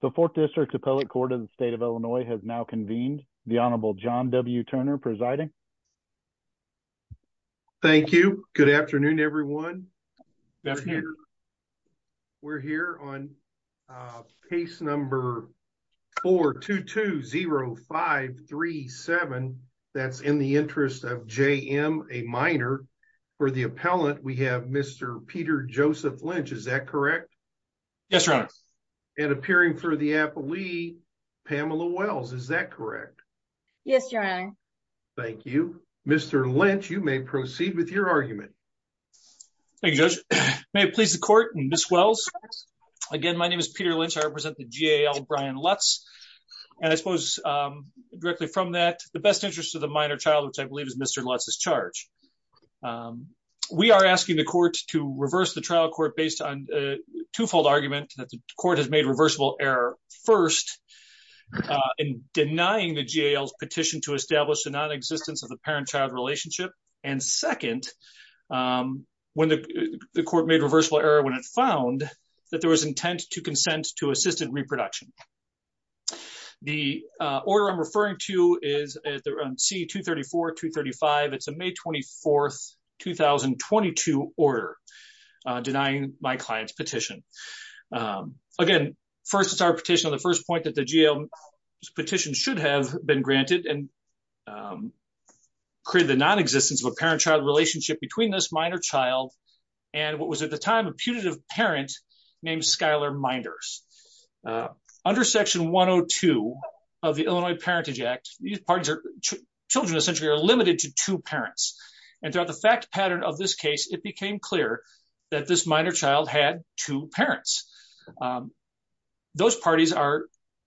The Fourth District Appellate Court of the State of Illinois has now convened. The Honorable John W. Turner presiding. Thank you. Good afternoon, everyone. We're here on case number 4220537. That's in the interest of J.M. A minor. For the appellant, we have Mr. Peter Joseph Lynch. Is that correct? Yes, Your Honor. And appearing for the appellee, Pamela Wells. Is that correct? Yes, Your Honor. Thank you. Mr. Lynch, you may proceed with your argument. Thank you, Judge. May it please the Court, Ms. Wells. Again, my name is Peter Lynch. I represent the G.A.L. Brian Lutz. And I suppose directly from that, the best interest of the minor child, which I believe is Mr. Lutz's charge. We are asking the court to reverse the trial court based on a twofold argument that the court has made reversible error. First, in denying the G.A.L.'s petition to establish the nonexistence of the parent-child relationship. And second, when the court made reversible error when it found that there was intent to consent to assisted reproduction. The order I'm referring to is C-234-235. It's a May 24th, 2022 order denying my client's petition. Again, first, it's our petition on the first point that the G.A.L.'s petition should have been granted. And created the nonexistence of a parent-child relationship between this minor child and what was at the time a putative parent named Skylar Minders. Under Section 102 of the Illinois Parentage Act, these parties are children essentially are limited to two parents. And throughout the fact pattern of this case, it became clear that this minor child had two parents. Those parties are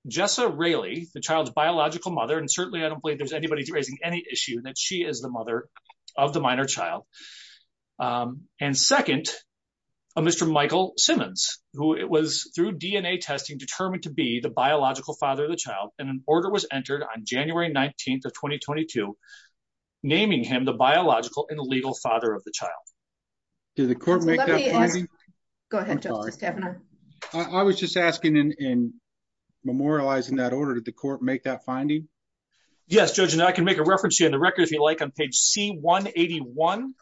Jessa Raley, the child's biological mother. And certainly, I don't believe there's anybody raising any issue that she is the mother of the minor child. And second, Mr. Michael Simmons, who it was through DNA testing determined to be the biological father of the child. And an order was entered on January 19th of 2022 naming him the biological and legal father of the child. Did the court make that finding? Go ahead, Justice Kavanaugh. I was just asking in memorializing that order, did the court make that finding? Yes, Judge, and I can make a reference to you in the record if you like on page C-181.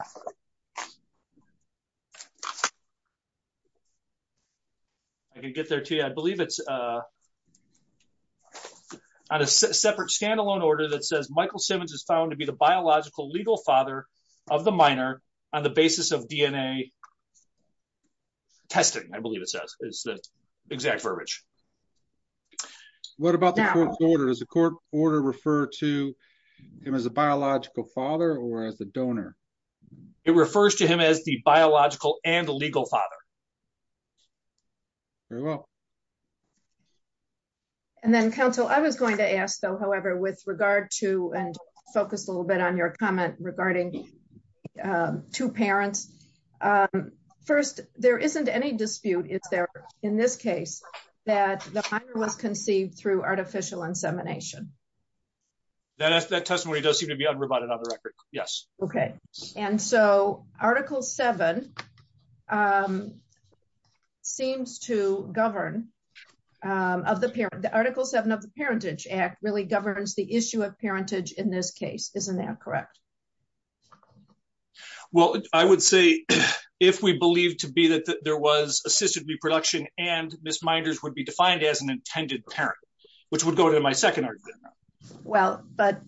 I can get there to you. I believe it's on a separate standalone order that says Michael Simmons is found to be the biological legal father of the minor on the basis of DNA testing. I believe it says. It's the exact verbiage. What about the court's order? Does the court order refer to him as a biological father or as a donor? It refers to him as the biological and legal father. Very well. And then, counsel, I was going to ask, though, however, with regard to and focus a little bit on your comment regarding two parents. First, there isn't any dispute, is there, in this case, that the minor was conceived through artificial insemination? That testimony does seem to be unrebutted on the record. Yes. Okay. And so Article 7 seems to govern of the parent. The Article 7 of the Parentage Act really governs the issue of parentage in this case. Isn't that correct? Well, I would say if we believe to be that there was assisted reproduction and misminders would be defined as an intended parent, which would go to my second argument. Well, but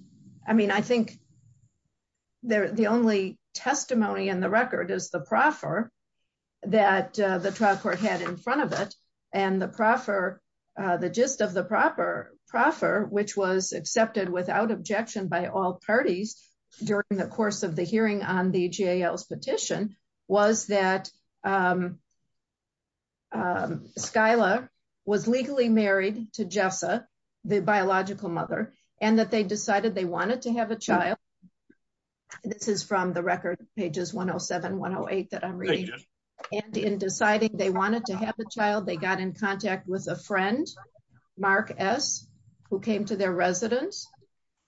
I mean, I think the only testimony in the record is the proffer that the trial court had in front of it and the proffer, the gist of the proffer, which was accepted without objection by all parties during the course of the hearing on the JAL's petition, was that Skyler was legally married to Jessa, the biological mother, and that they decided they wanted to have a child. This is from the record, pages 107, 108, that I'm reading. Thank you. And in deciding they wanted to have a child, they got in contact with a friend, Mark S., who came to their residence,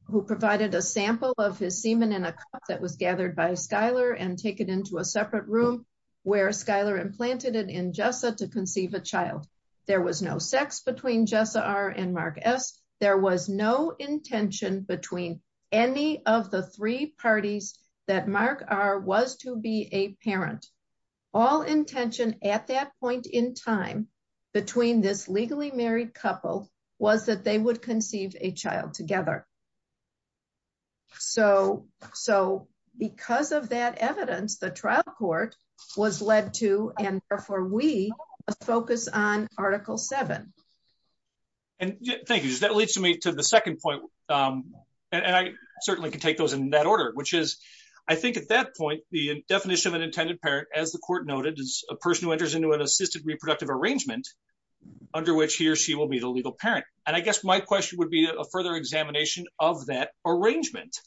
who provided a sample of his semen in a cup that was gathered by Skyler and taken into a separate room where Skyler implanted it in Jessa to conceive a child. There was no sex between Jessa R. and Mark S. There was no intention between any of the three parties that Mark R. was to be a parent. All intention at that point in time between this legally married couple was that they would conceive a child together. So, because of that evidence, the trial court was led to, and therefore we, a focus on Article 7. Thank you. That leads me to the second point, and I certainly can take those in that order, which is, I think at that point, the definition of an intended parent, as the court noted, is a person who enters into an assisted reproductive arrangement, under which he or she will be the legal parent. And I guess my question would be a further examination of that arrangement,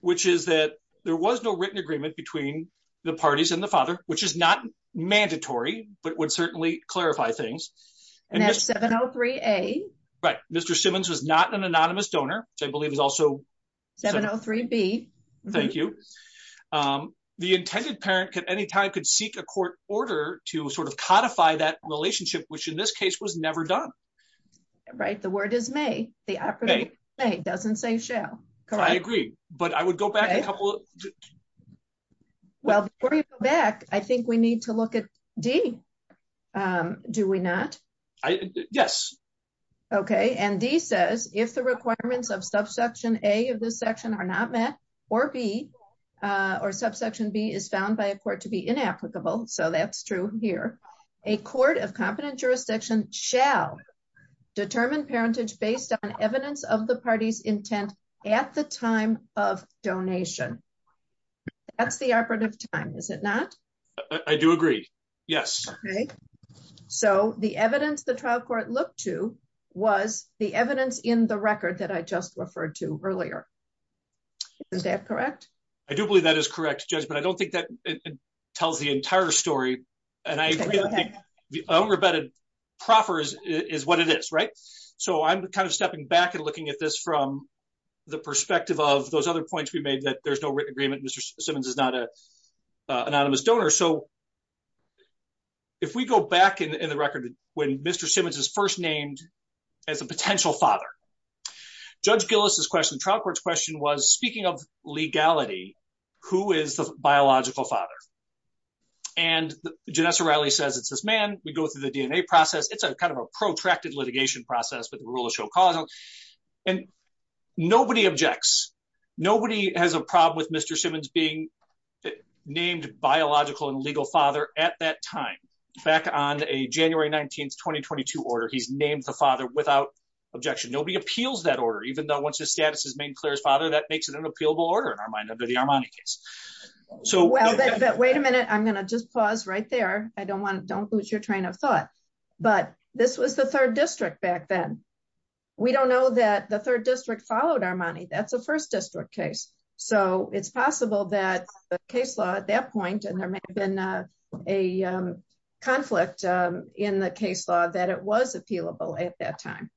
which is that there was no written agreement between the parties and the father, which is not mandatory, but would certainly clarify things. And that's 703A. Right. Mr. Simmons was not an anonymous donor, which I believe is also 703B. Thank you. The intended parent at any time could seek a court order to sort of codify that relationship, which in this case was never done. Right. The word is may. The operative word is may. It doesn't say shall. I agree, but I would go back a couple of... Well, before you go back, I think we need to look at D. Do we not? Yes. Okay. And D says, if the requirements of subsection A of this section are not met, or B, or subsection B is found by a court to be inapplicable, so that's true here, a court of competent jurisdiction shall determine parentage based on evidence of the party's intent at the time of donation. That's the operative time, is it not? I do agree. Yes. Okay. So the evidence the trial court looked to was the evidence in the record that I just referred to earlier. Is that correct? I do believe that is correct, Judge, but I don't think that tells the entire story. And I think the unrebetted proffer is what it is, right? So I'm kind of stepping back and looking at this from the perspective of those other points we made that there's no written agreement. Mr. Simmons is not an anonymous donor. So, if we go back in the record, when Mr. Simmons is first named as a potential father, Judge Gillis's question, trial court's question was, speaking of legality, who is the biological father? And Janessa Riley says it's this man. We go through the DNA process. It's a kind of a protracted litigation process, but the rules show causal. And nobody objects. Nobody has a problem with Mr. Simmons being named biological and legal father at that time. Back on a January 19, 2022 order, he's named the father without objection. Nobody appeals that order, even though once his status is made clear as father, that makes it an appealable order in our mind under the Armani case. Wait a minute. I'm going to just pause right there. Don't lose your train of thought. But this was the 3rd District back then. We don't know that the 3rd District followed Armani. That's a 1st District case. So it's possible that the case law at that point, and there may have been a conflict in the case law, that it was appealable at that time.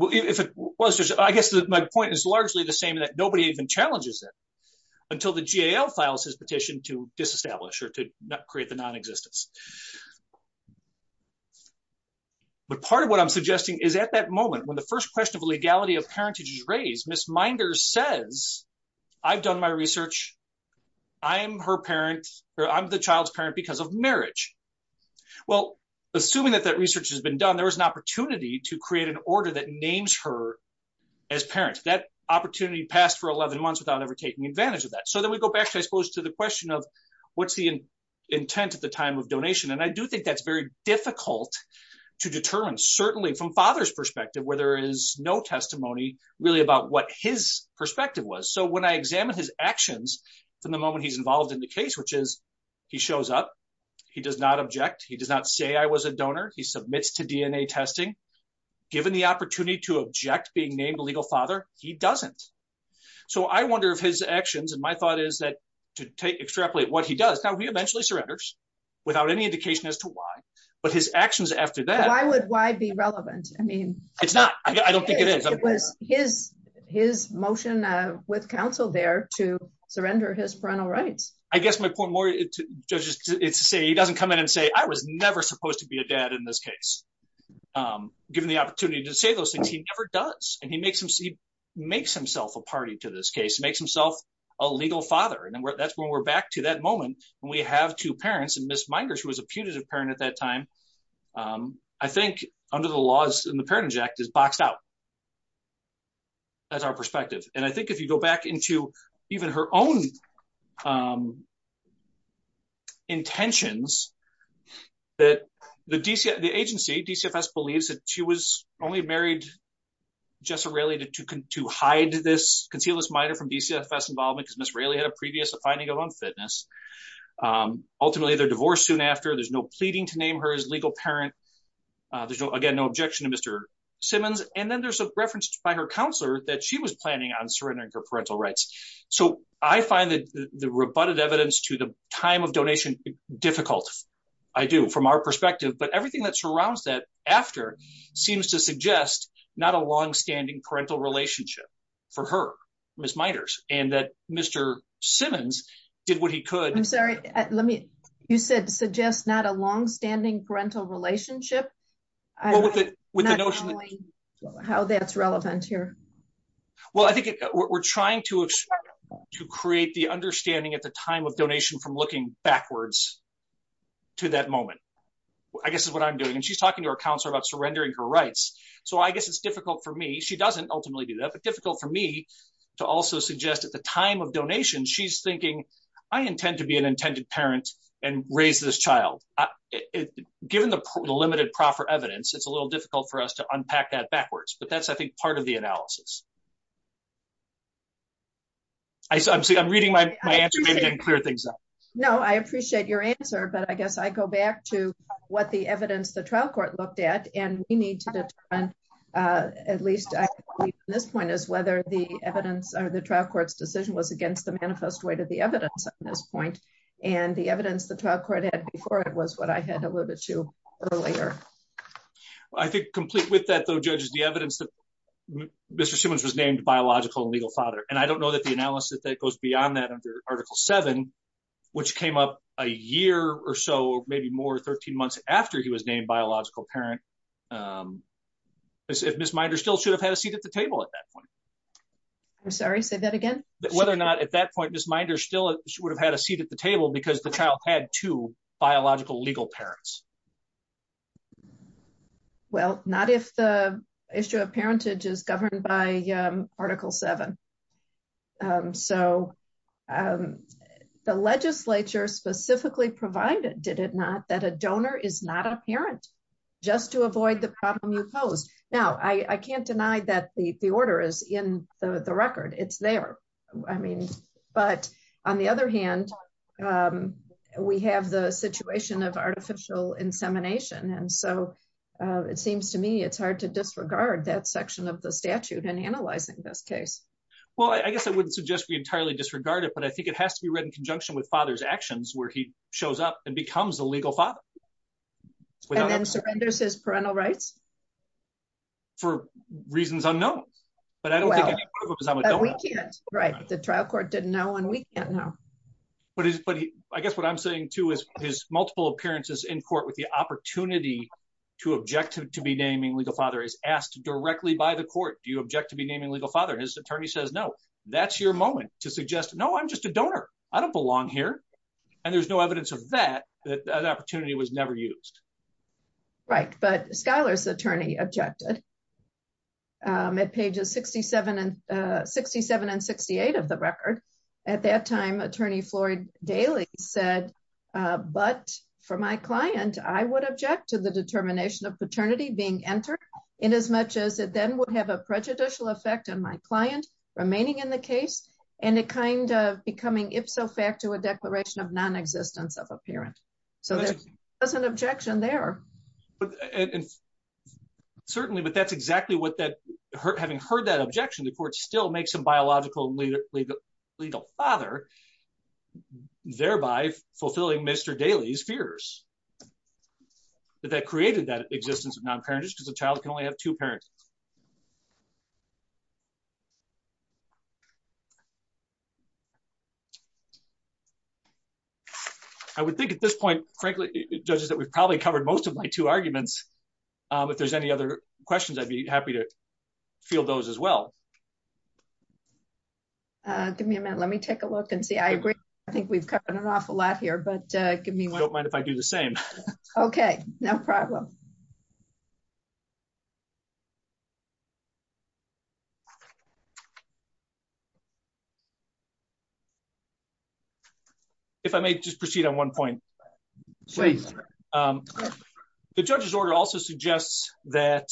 I guess my point is largely the same, that nobody even challenges it until the GAL files his petition to disestablish or to create the non-existence. But part of what I'm suggesting is at that moment, when the first question of legality of parentage is raised, Ms. Minder says, I've done my research. I'm her parent, or I'm the child's parent because of marriage. Well, assuming that that research has been done, there was an opportunity to create an order that names her as parent. That opportunity passed for 11 months without ever taking advantage of that. So then we go back, I suppose, to the question of what's the intent at the time of donation. And I do think that's very difficult to determine, certainly from father's perspective, where there is no testimony really about what his perspective was. So when I examine his actions from the moment he's involved in the case, which is he shows up, he does not object. He does not say I was a donor. He submits to DNA testing. Given the opportunity to object being named a legal father, he doesn't. So I wonder if his actions, and my thought is that to extrapolate what he does. Now, he eventually surrenders without any indication as to why. But his actions after that... Why would why be relevant? I mean... It's not. I don't think it is. It was his motion with counsel there to surrender his parental rights. I guess my point more, Judge, is to say he doesn't come in and say, I was never supposed to be a dad in this case. Given the opportunity to say those things, he never does. And he makes himself a party to this case, makes himself a legal father. And that's when we're back to that moment. When we have two parents, and Ms. Minder, who was a putative parent at that time, I think under the laws in the Parentage Act is boxed out. That's our perspective. And I think if you go back into even her own intentions, that the agency, DCFS, believes that she was only married, Jessa Railey, to conceal Ms. Minder from DCFS involvement because Ms. Railey had a previous finding of unfitness. Ultimately, they're divorced soon after. There's no pleading to name her as legal parent. There's, again, no objection to Mr. Simmons. And then there's a reference by her counselor that she was planning on surrendering her parental rights. So I find that the rebutted evidence to the time of donation difficult. I do, from our perspective. But everything that surrounds that after seems to suggest not a long-standing parental relationship for her, Ms. Minder, and that Mr. Simmons did what he could. I'm sorry. You said suggest not a long-standing parental relationship? Well, with the notion that... Not knowing how that's relevant here. Well, I think we're trying to create the understanding at the time of donation from looking backwards to that moment, I guess is what I'm doing. And she's talking to her counselor about surrendering her rights. So I guess it's difficult for me. She doesn't ultimately do that, but difficult for me to also suggest at the time of donation, she's thinking, I intend to be an intended parent and raise this child. Given the limited proper evidence, it's a little difficult for us to unpack that backwards. But that's, I think, part of the analysis. I'm reading my answer, maybe I didn't clear things up. No, I appreciate your answer. But I guess I go back to what the evidence the trial court looked at. And we need to determine, at least at this point, is whether the evidence or the trial court's decision was against the manifest way to the evidence at this point. And the evidence the trial court had before it was what I had alluded to earlier. I think complete with that, though, Judge, is the evidence that Mr. Simmons was named biological and legal father. And I don't know that the analysis that goes beyond that under Article 7, which came up a year or so, maybe more, 13 months after he was named biological parent. If Ms. Minder still should have had a seat at the table at that point. I'm sorry, say that again. Whether or not at that point, Ms. Minder still would have had a seat at the table because the child had two biological legal parents. Well, not if the issue of parentage is governed by Article 7. So, the legislature specifically provided, did it not, that a donor is not a parent, just to avoid the problem you posed. Now, I can't deny that the order is in the record. It's there. But, on the other hand, we have the situation of artificial insemination. And so, it seems to me it's hard to disregard that section of the statute in analyzing this case. Well, I guess I wouldn't suggest we entirely disregard it, but I think it has to be read in conjunction with father's actions where he shows up and becomes a legal father. And then surrenders his parental rights? For reasons unknown. Well, we can't. The trial court didn't know, and we can't know. But, I guess what I'm saying, too, is his multiple appearances in court with the opportunity to object to be naming legal father is asked directly by the court. Do you object to be naming legal father? His attorney says no. That's your moment to suggest, no, I'm just a donor. I don't belong here. And there's no evidence of that, that opportunity was never used. Right, but Schuyler's attorney objected. At pages 67 and 68 of the record. At that time, attorney Floyd Daly said, but for my client, I would object to the determination of paternity being entered in as much as it then would have a prejudicial effect on my client remaining in the case, and it kind of becoming ipso facto a declaration of non-existence of a parent. So, there's an objection there. Certainly, but that's exactly what that, having heard that objection, the court still makes a biological legal father, thereby fulfilling Mr. Daly's fears. That created that existence of non-parenthood because a child can only have two parents. Thank you. I would think at this point, frankly, judges that we've probably covered most of my two arguments. If there's any other questions I'd be happy to feel those as well. Give me a minute, let me take a look and see I agree. I think we've covered an awful lot here but give me one if I do the same. Okay, no problem. If I may just proceed on one point. Please. The judge's order also suggests that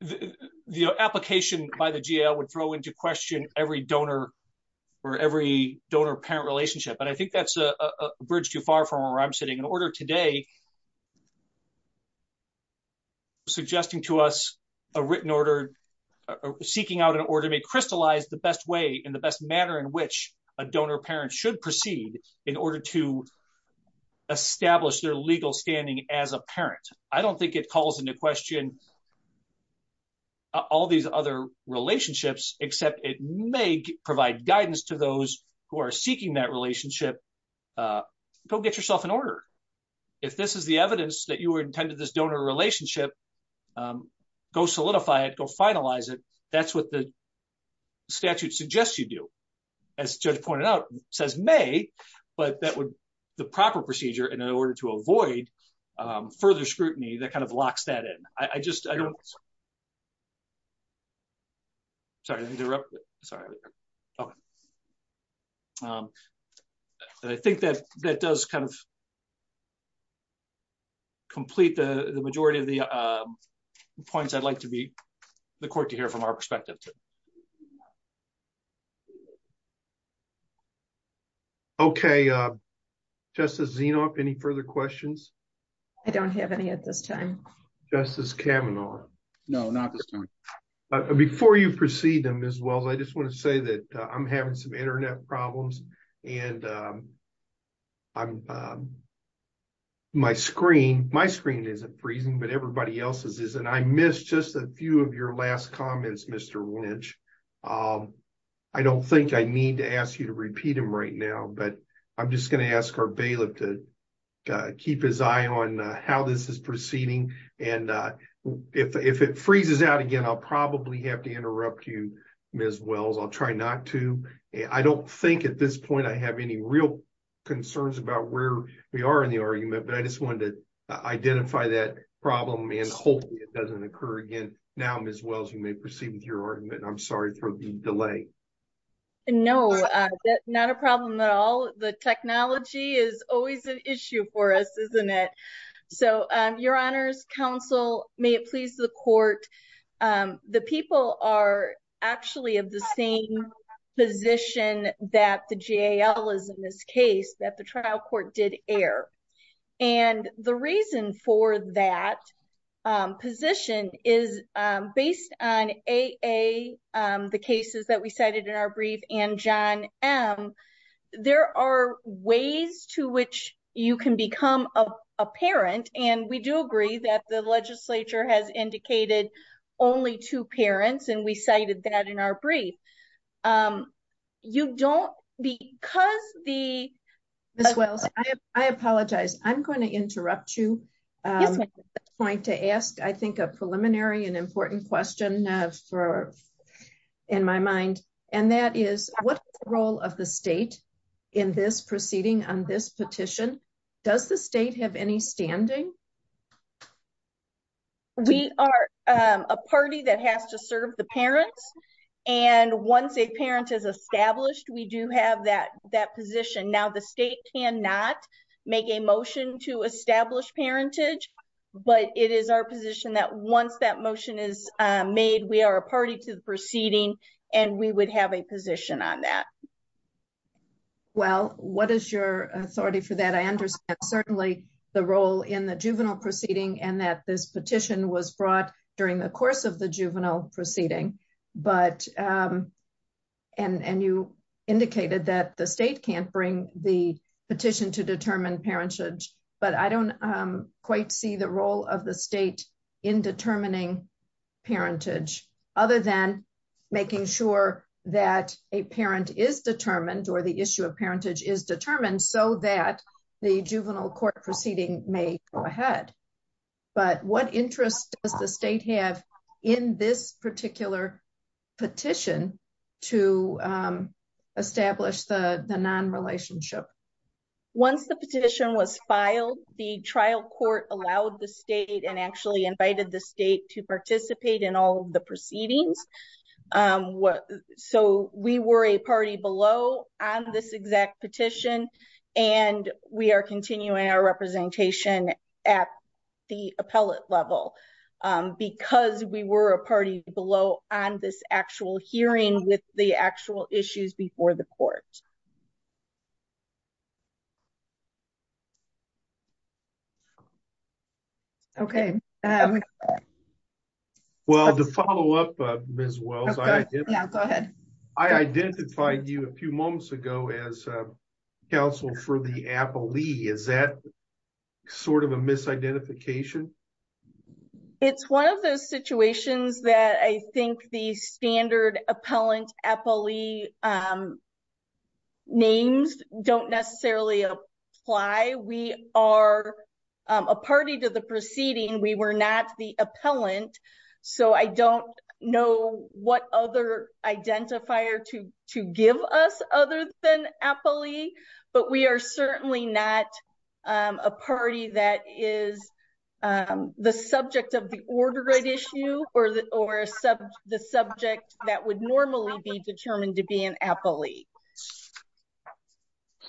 the application by the GL would throw into question every donor or every donor parent relationship and I think that's a bridge too far from where I'm sitting in order today, suggesting to us a written order, seeking out an order may crystallize the best way in the best manner in which a donor parent should proceed in order to establish their legal standing as a parent. I don't think it calls into question all these other relationships, except it may provide guidance to those who are seeking that relationship. Go get yourself an order. If this is the evidence that you were intended this donor relationship. Go solidify it go finalize it. That's what the statute suggests you do. says may, but that would the proper procedure and in order to avoid further scrutiny that kind of locks that in, I just Sorry to interrupt. Sorry. I think that that does kind of Okay. Just as you know, if any further questions. I don't have any at this time. Justice Kavanaugh. No, not this time. Before you proceed them as well I just want to say that I'm having some internet problems, and I'm my screen, my screen isn't freezing but everybody else's isn't I missed just a few of your last comments, Mr. Lynch. I don't think I need to ask you to repeat them right now but I'm just going to ask our bailiff to keep his eye on how this is proceeding. And if it freezes out again I'll probably have to interrupt you, Miss Wells I'll try not to. I don't think at this point I have any real concerns about where we are in the argument but I just wanted to identify that problem and hopefully it doesn't occur again. Now as well as you may proceed with your argument I'm sorry for the delay. No, not a problem at all. The technology is always an issue for us, isn't it. So, Your Honor's counsel, may it please the court. The people are actually of the same position that the jail is in this case that the trial court did air. And the reason for that position is based on a, the cases that we cited in our brief and john. There are ways to which you can become a parent, and we do agree that the legislature has indicated only two parents and we cited that in our brief. You don't because the as well. I apologize, I'm going to interrupt you. Going to ask I think a preliminary and important question for in my mind, and that is what role of the state in this proceeding on this petition. Does the state have any standing. We are a party that has to serve the parents and once a parent is established, we do have that that position. Now, the state cannot make a motion to establish parentage, but it is our position that once that motion is made, we are a party to the proceeding and we would have a position on that. Well, what is your authority for that I understand certainly the role in the juvenile proceeding and that this petition was brought during the course of the juvenile proceeding, but, and you indicated that the state can't bring the petition to determine issue of parentage is determined so that the juvenile court proceeding may go ahead. But what interest does the state have in this particular petition to establish the non relationship. Once the petition was filed the trial court allowed the state and actually invited the state to participate in all the proceedings. What, so we were a party below on this exact petition, and we are continuing our representation at the appellate level, because we were a party below on this actual hearing with the actual issues before the court. Okay. Well, to follow up as well. Go ahead. I identified you a few moments ago as counsel for the appellee is that sort of a misidentification. It's one of those situations that I think the standard appellant appellee. Names don't necessarily apply we are a party to the proceeding we were not the appellant. So I don't know what other identifier to to give us other than appellee, but we are certainly not a party that is the subject of the order right issue, or the, or the subject that would normally be determined to be an appellee.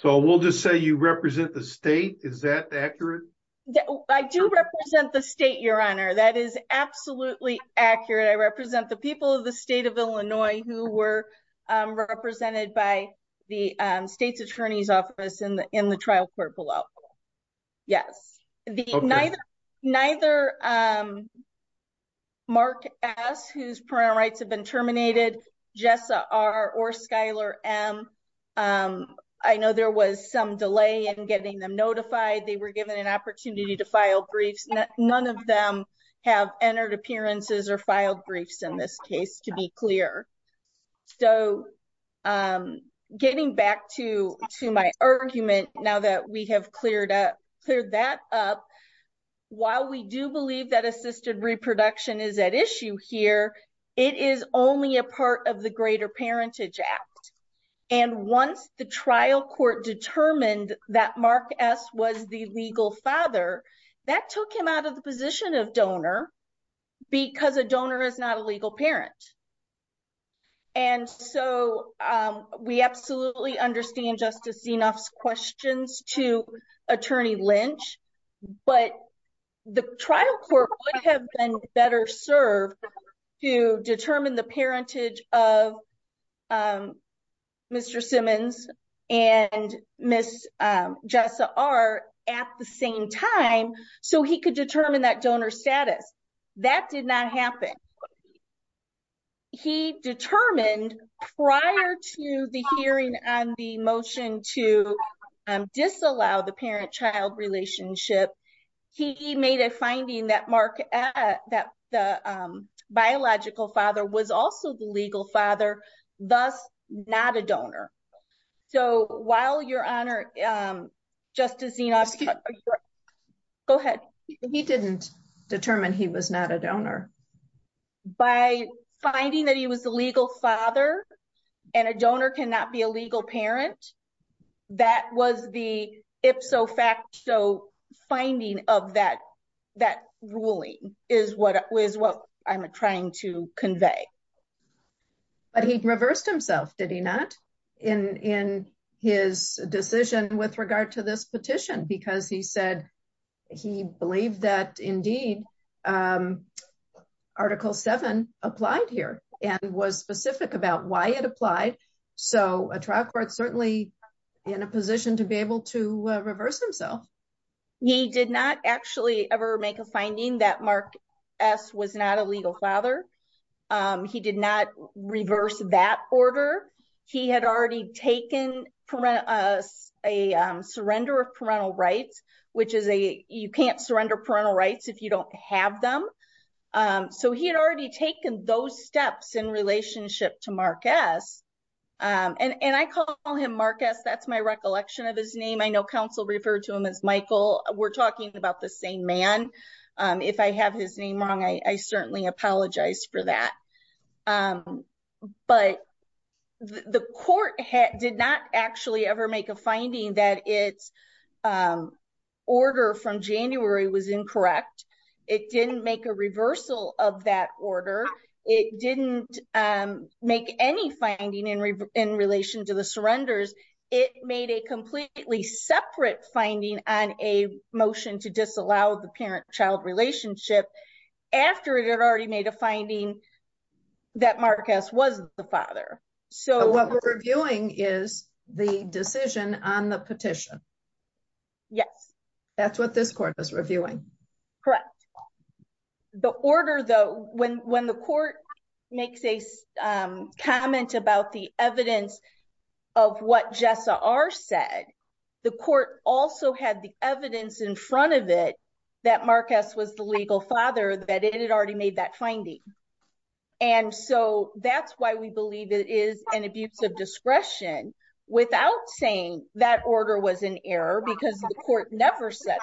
So we'll just say you represent the state. Is that accurate. I do represent the state. Your honor. That is absolutely accurate. I represent the people of the state of Illinois, who were represented by the state's attorney's office in the, in the trial court below. Yes, the neither. Neither. Mark, as who's parent rights have been terminated. Jessa are or Schuyler. I know there was some delay and getting them notified they were given an opportunity to file briefs. None of them have entered appearances or filed briefs in this case to be clear. So, getting back to, to my argument, now that we have cleared up, clear that up. While we do believe that assisted reproduction is at issue here. It is only a part of the greater parentage act. And once the trial court determined that Mark s was the legal father that took him out of the position of donor. Because a donor is not a legal parent. And so we absolutely understand justice enough questions to attorney Lynch, but the trial court would have been better serve to determine the parentage of. Mr. Simmons and miss Jessa are at the same time, so he could determine that donor status that did not happen. He determined prior to the hearing and the motion to disallow the parent child relationship. He made a finding that mark that the biological father was also the legal father, thus, not a donor. So, while your honor, just as you know, go ahead. He didn't determine he was not a donor. By finding that he was the legal father. And a donor cannot be a legal parent. That was the ipso facto finding of that. That ruling is what is what I'm trying to convey. But he reversed himself, did he not in in his decision with regard to this petition? Because he said. He believed that indeed, article 7 applied here and was specific about why it applied. So, a trial court certainly in a position to be able to reverse himself. He did not actually ever make a finding that mark. S was not a legal father. He did not reverse that order. He had already taken a surrender of parental rights, which is a, you can't surrender parental rights if you don't have them. So he had already taken those steps in relationship to mark. And I call him Marcus. That's my recollection of his name. I know council referred to him as Michael. We're talking about the same man. If I have his name wrong, I certainly apologize for that. But the court did not actually ever make a finding that it's order from January was incorrect. It didn't make a reversal of that order. It didn't make any finding in in relation to the surrenders. It made a completely separate finding on a motion to disallow the parent child relationship after it had already made a finding. That Marcus was the father. So, what we're reviewing is the decision on the petition. Yes, that's what this court is reviewing. Correct. The order, though, when when the court makes a comment about the evidence of what Jess are said, the court also had the evidence in front of it that Marcus was the legal father that it had already made that finding. And so that's why we believe it is an abuse of discretion without saying that order was an error because the court never said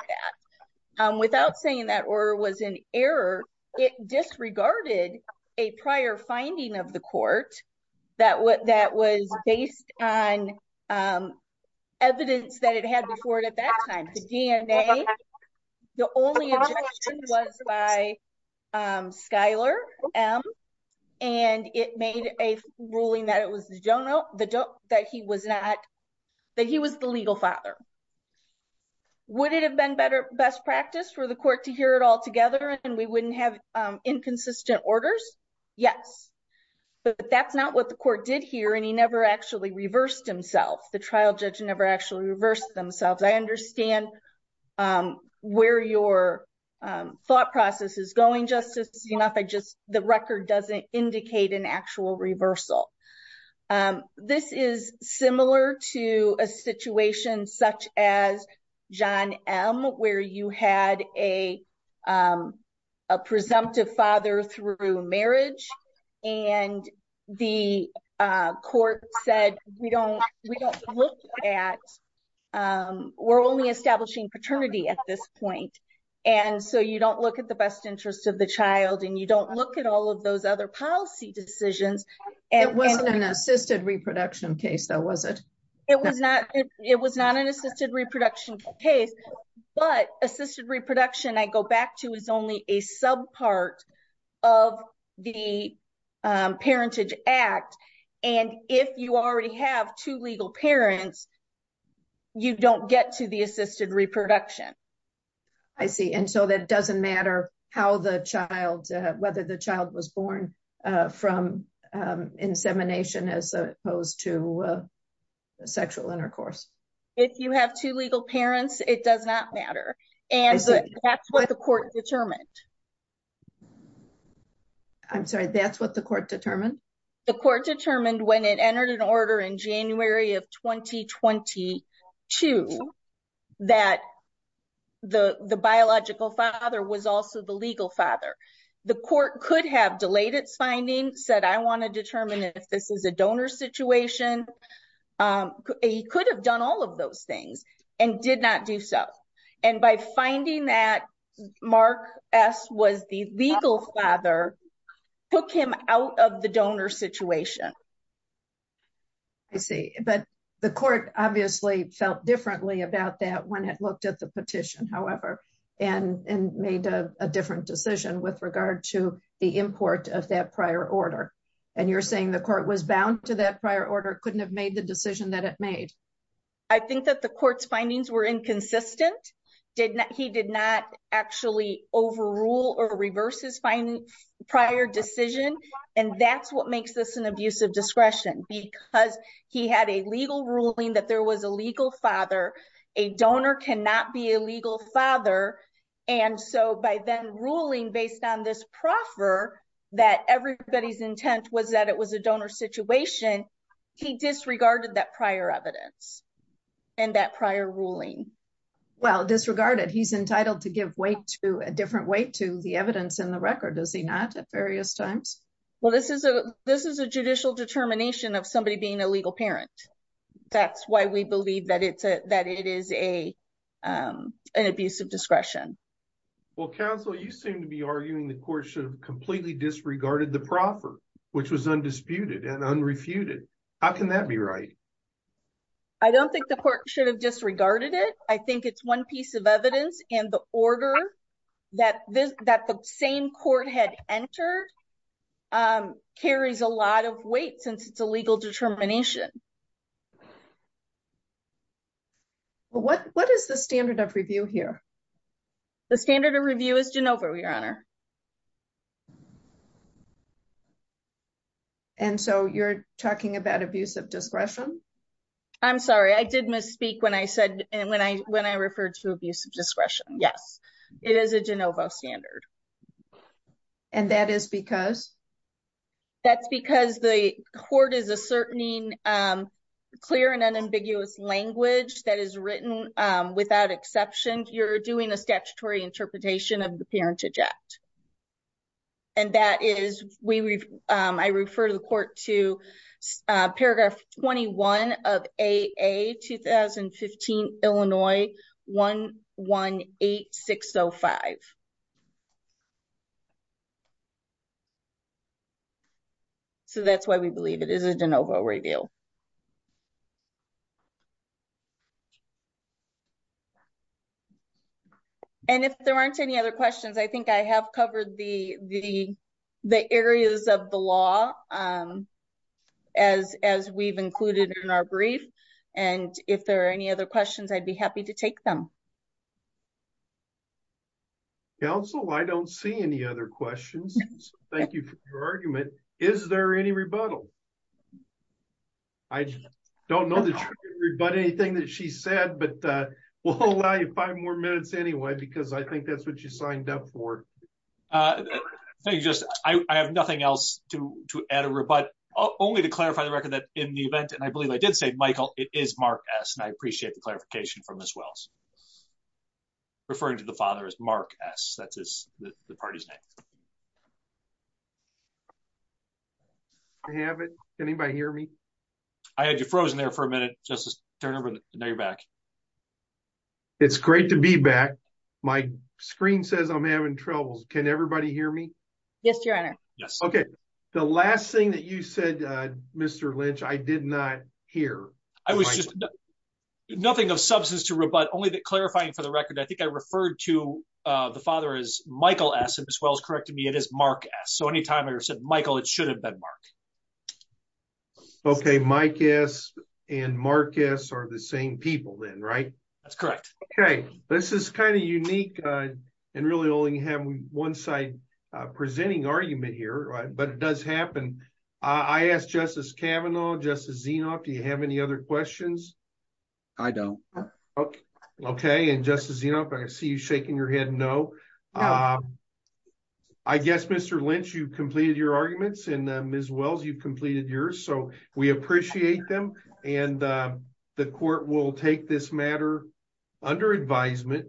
that without saying that or was an error. It disregarded a prior finding of the court that what that was based on evidence that it had before it at that time. The only was by Skylar and it made a ruling that it was that he was not that he was the legal father. Would it have been better best practice for the court to hear it all together and we wouldn't have inconsistent orders? Yes, but that's not what the court did here. And he never actually reversed himself. The trial judge never actually reversed themselves. I understand where your thought process is going. Just enough. I just the record doesn't indicate an actual reversal. This is similar to a situation such as John M, where you had a presumptive father through marriage. And the court said, we don't we don't look at we're only establishing paternity at this point. And so you don't look at the best interest of the child and you don't look at all of those other policy decisions. And it wasn't an assisted reproduction case. That was it. It was not it was not an assisted reproduction case, but assisted reproduction I go back to is only a sub part of the parentage act. And if you already have two legal parents, you don't get to the assisted reproduction. I see. And so that doesn't matter how the child whether the child was born from insemination as opposed to sexual intercourse. If you have two legal parents, it does not matter. And that's what the court determined. I'm sorry, that's what the court determined. The court determined when it entered an order in January of 2022, that the biological father was also the legal father. The court could have delayed its finding said, I want to determine if this is a donor situation. He could have done all of those things and did not do so. And by finding that Mark S was the legal father, took him out of the donor situation. I see, but the court obviously felt differently about that when it looked at the petition, however, and made a different decision with regard to the import of that prior order. And you're saying the court was bound to that prior order couldn't have made the decision that it made. I think that the court's findings were inconsistent. He did not actually overrule or reverse his prior decision. And that's what makes this an abuse of discretion because he had a legal ruling that there was a legal father. A donor cannot be a legal father. And so by then ruling based on this proffer that everybody's intent was that it was a donor situation. He disregarded that prior evidence and that prior ruling. Well, disregarded he's entitled to give way to a different way to the evidence in the record. Does he not at various times? Well, this is a this is a judicial determination of somebody being a legal parent. That's why we believe that it's that it is a an abuse of discretion. Well, counsel, you seem to be arguing the court should have completely disregarded the proffer, which was undisputed and unrefuted. How can that be right? I don't think the court should have disregarded it. I think it's one piece of evidence and the order that that the same court had entered carries a lot of weight since it's a legal determination. Well, what what is the standard of review here? The standard of review is Jenova, your honor. And so you're talking about abuse of discretion. I'm sorry. I did misspeak when I said when I when I referred to abuse of discretion. Yes, it is a Jenova standard. And that is because that's because the court is a certain mean clear and unambiguous language that is written without exception. You're doing a statutory interpretation of the parentage act. And that is we I refer to the court to paragraph 21 of a 2015, Illinois, 118605. So that's why we believe it is a Jenova review. Thank you. And if there aren't any other questions, I think I have covered the the the areas of the law as as we've included in our brief. And if there are any other questions, I'd be happy to take them. Council, I don't see any other questions. Thank you for your argument. Is there any rebuttal? I don't know. But anything that she said, but we'll allow you five more minutes anyway, because I think that's what you signed up for. Just I have nothing else to add or but only to clarify the record that in the event, and I believe I did say, Michael, it is Mark S. And I appreciate the clarification from this Wells. Referring to the father is Mark S. That is the party's name. I have it. Anybody hear me? I had you frozen there for a minute. Just turn over. Now you're back. It's great to be back. My screen says I'm having troubles. Can everybody hear me? Yes, Your Honor. Yes. Okay. The last thing that you said, Mr. Lynch, I did not hear. I was just nothing of substance to rebut only that clarifying for the record. I think I referred to the father is Michael S. As well as correct me. It is Mark. Yes. So anytime I said, Michael, it should have been Mark. Okay. Mike S. And Marcus are the same people then. Right. That's correct. Okay. This is kind of unique and really only have one side presenting argument here. Right. But it does happen. I asked Justice Cavanaugh, Justice Zenoff. Do you have any other questions? I don't. Okay. Okay. And just as you know, I see you shaking your head. No. I guess, Mr. Lynch, you completed your arguments and Ms. Wells, you completed yours. So we appreciate them. And the court will take this matter under advisement.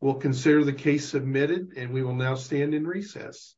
We'll consider the case submitted and we will now stand in recess.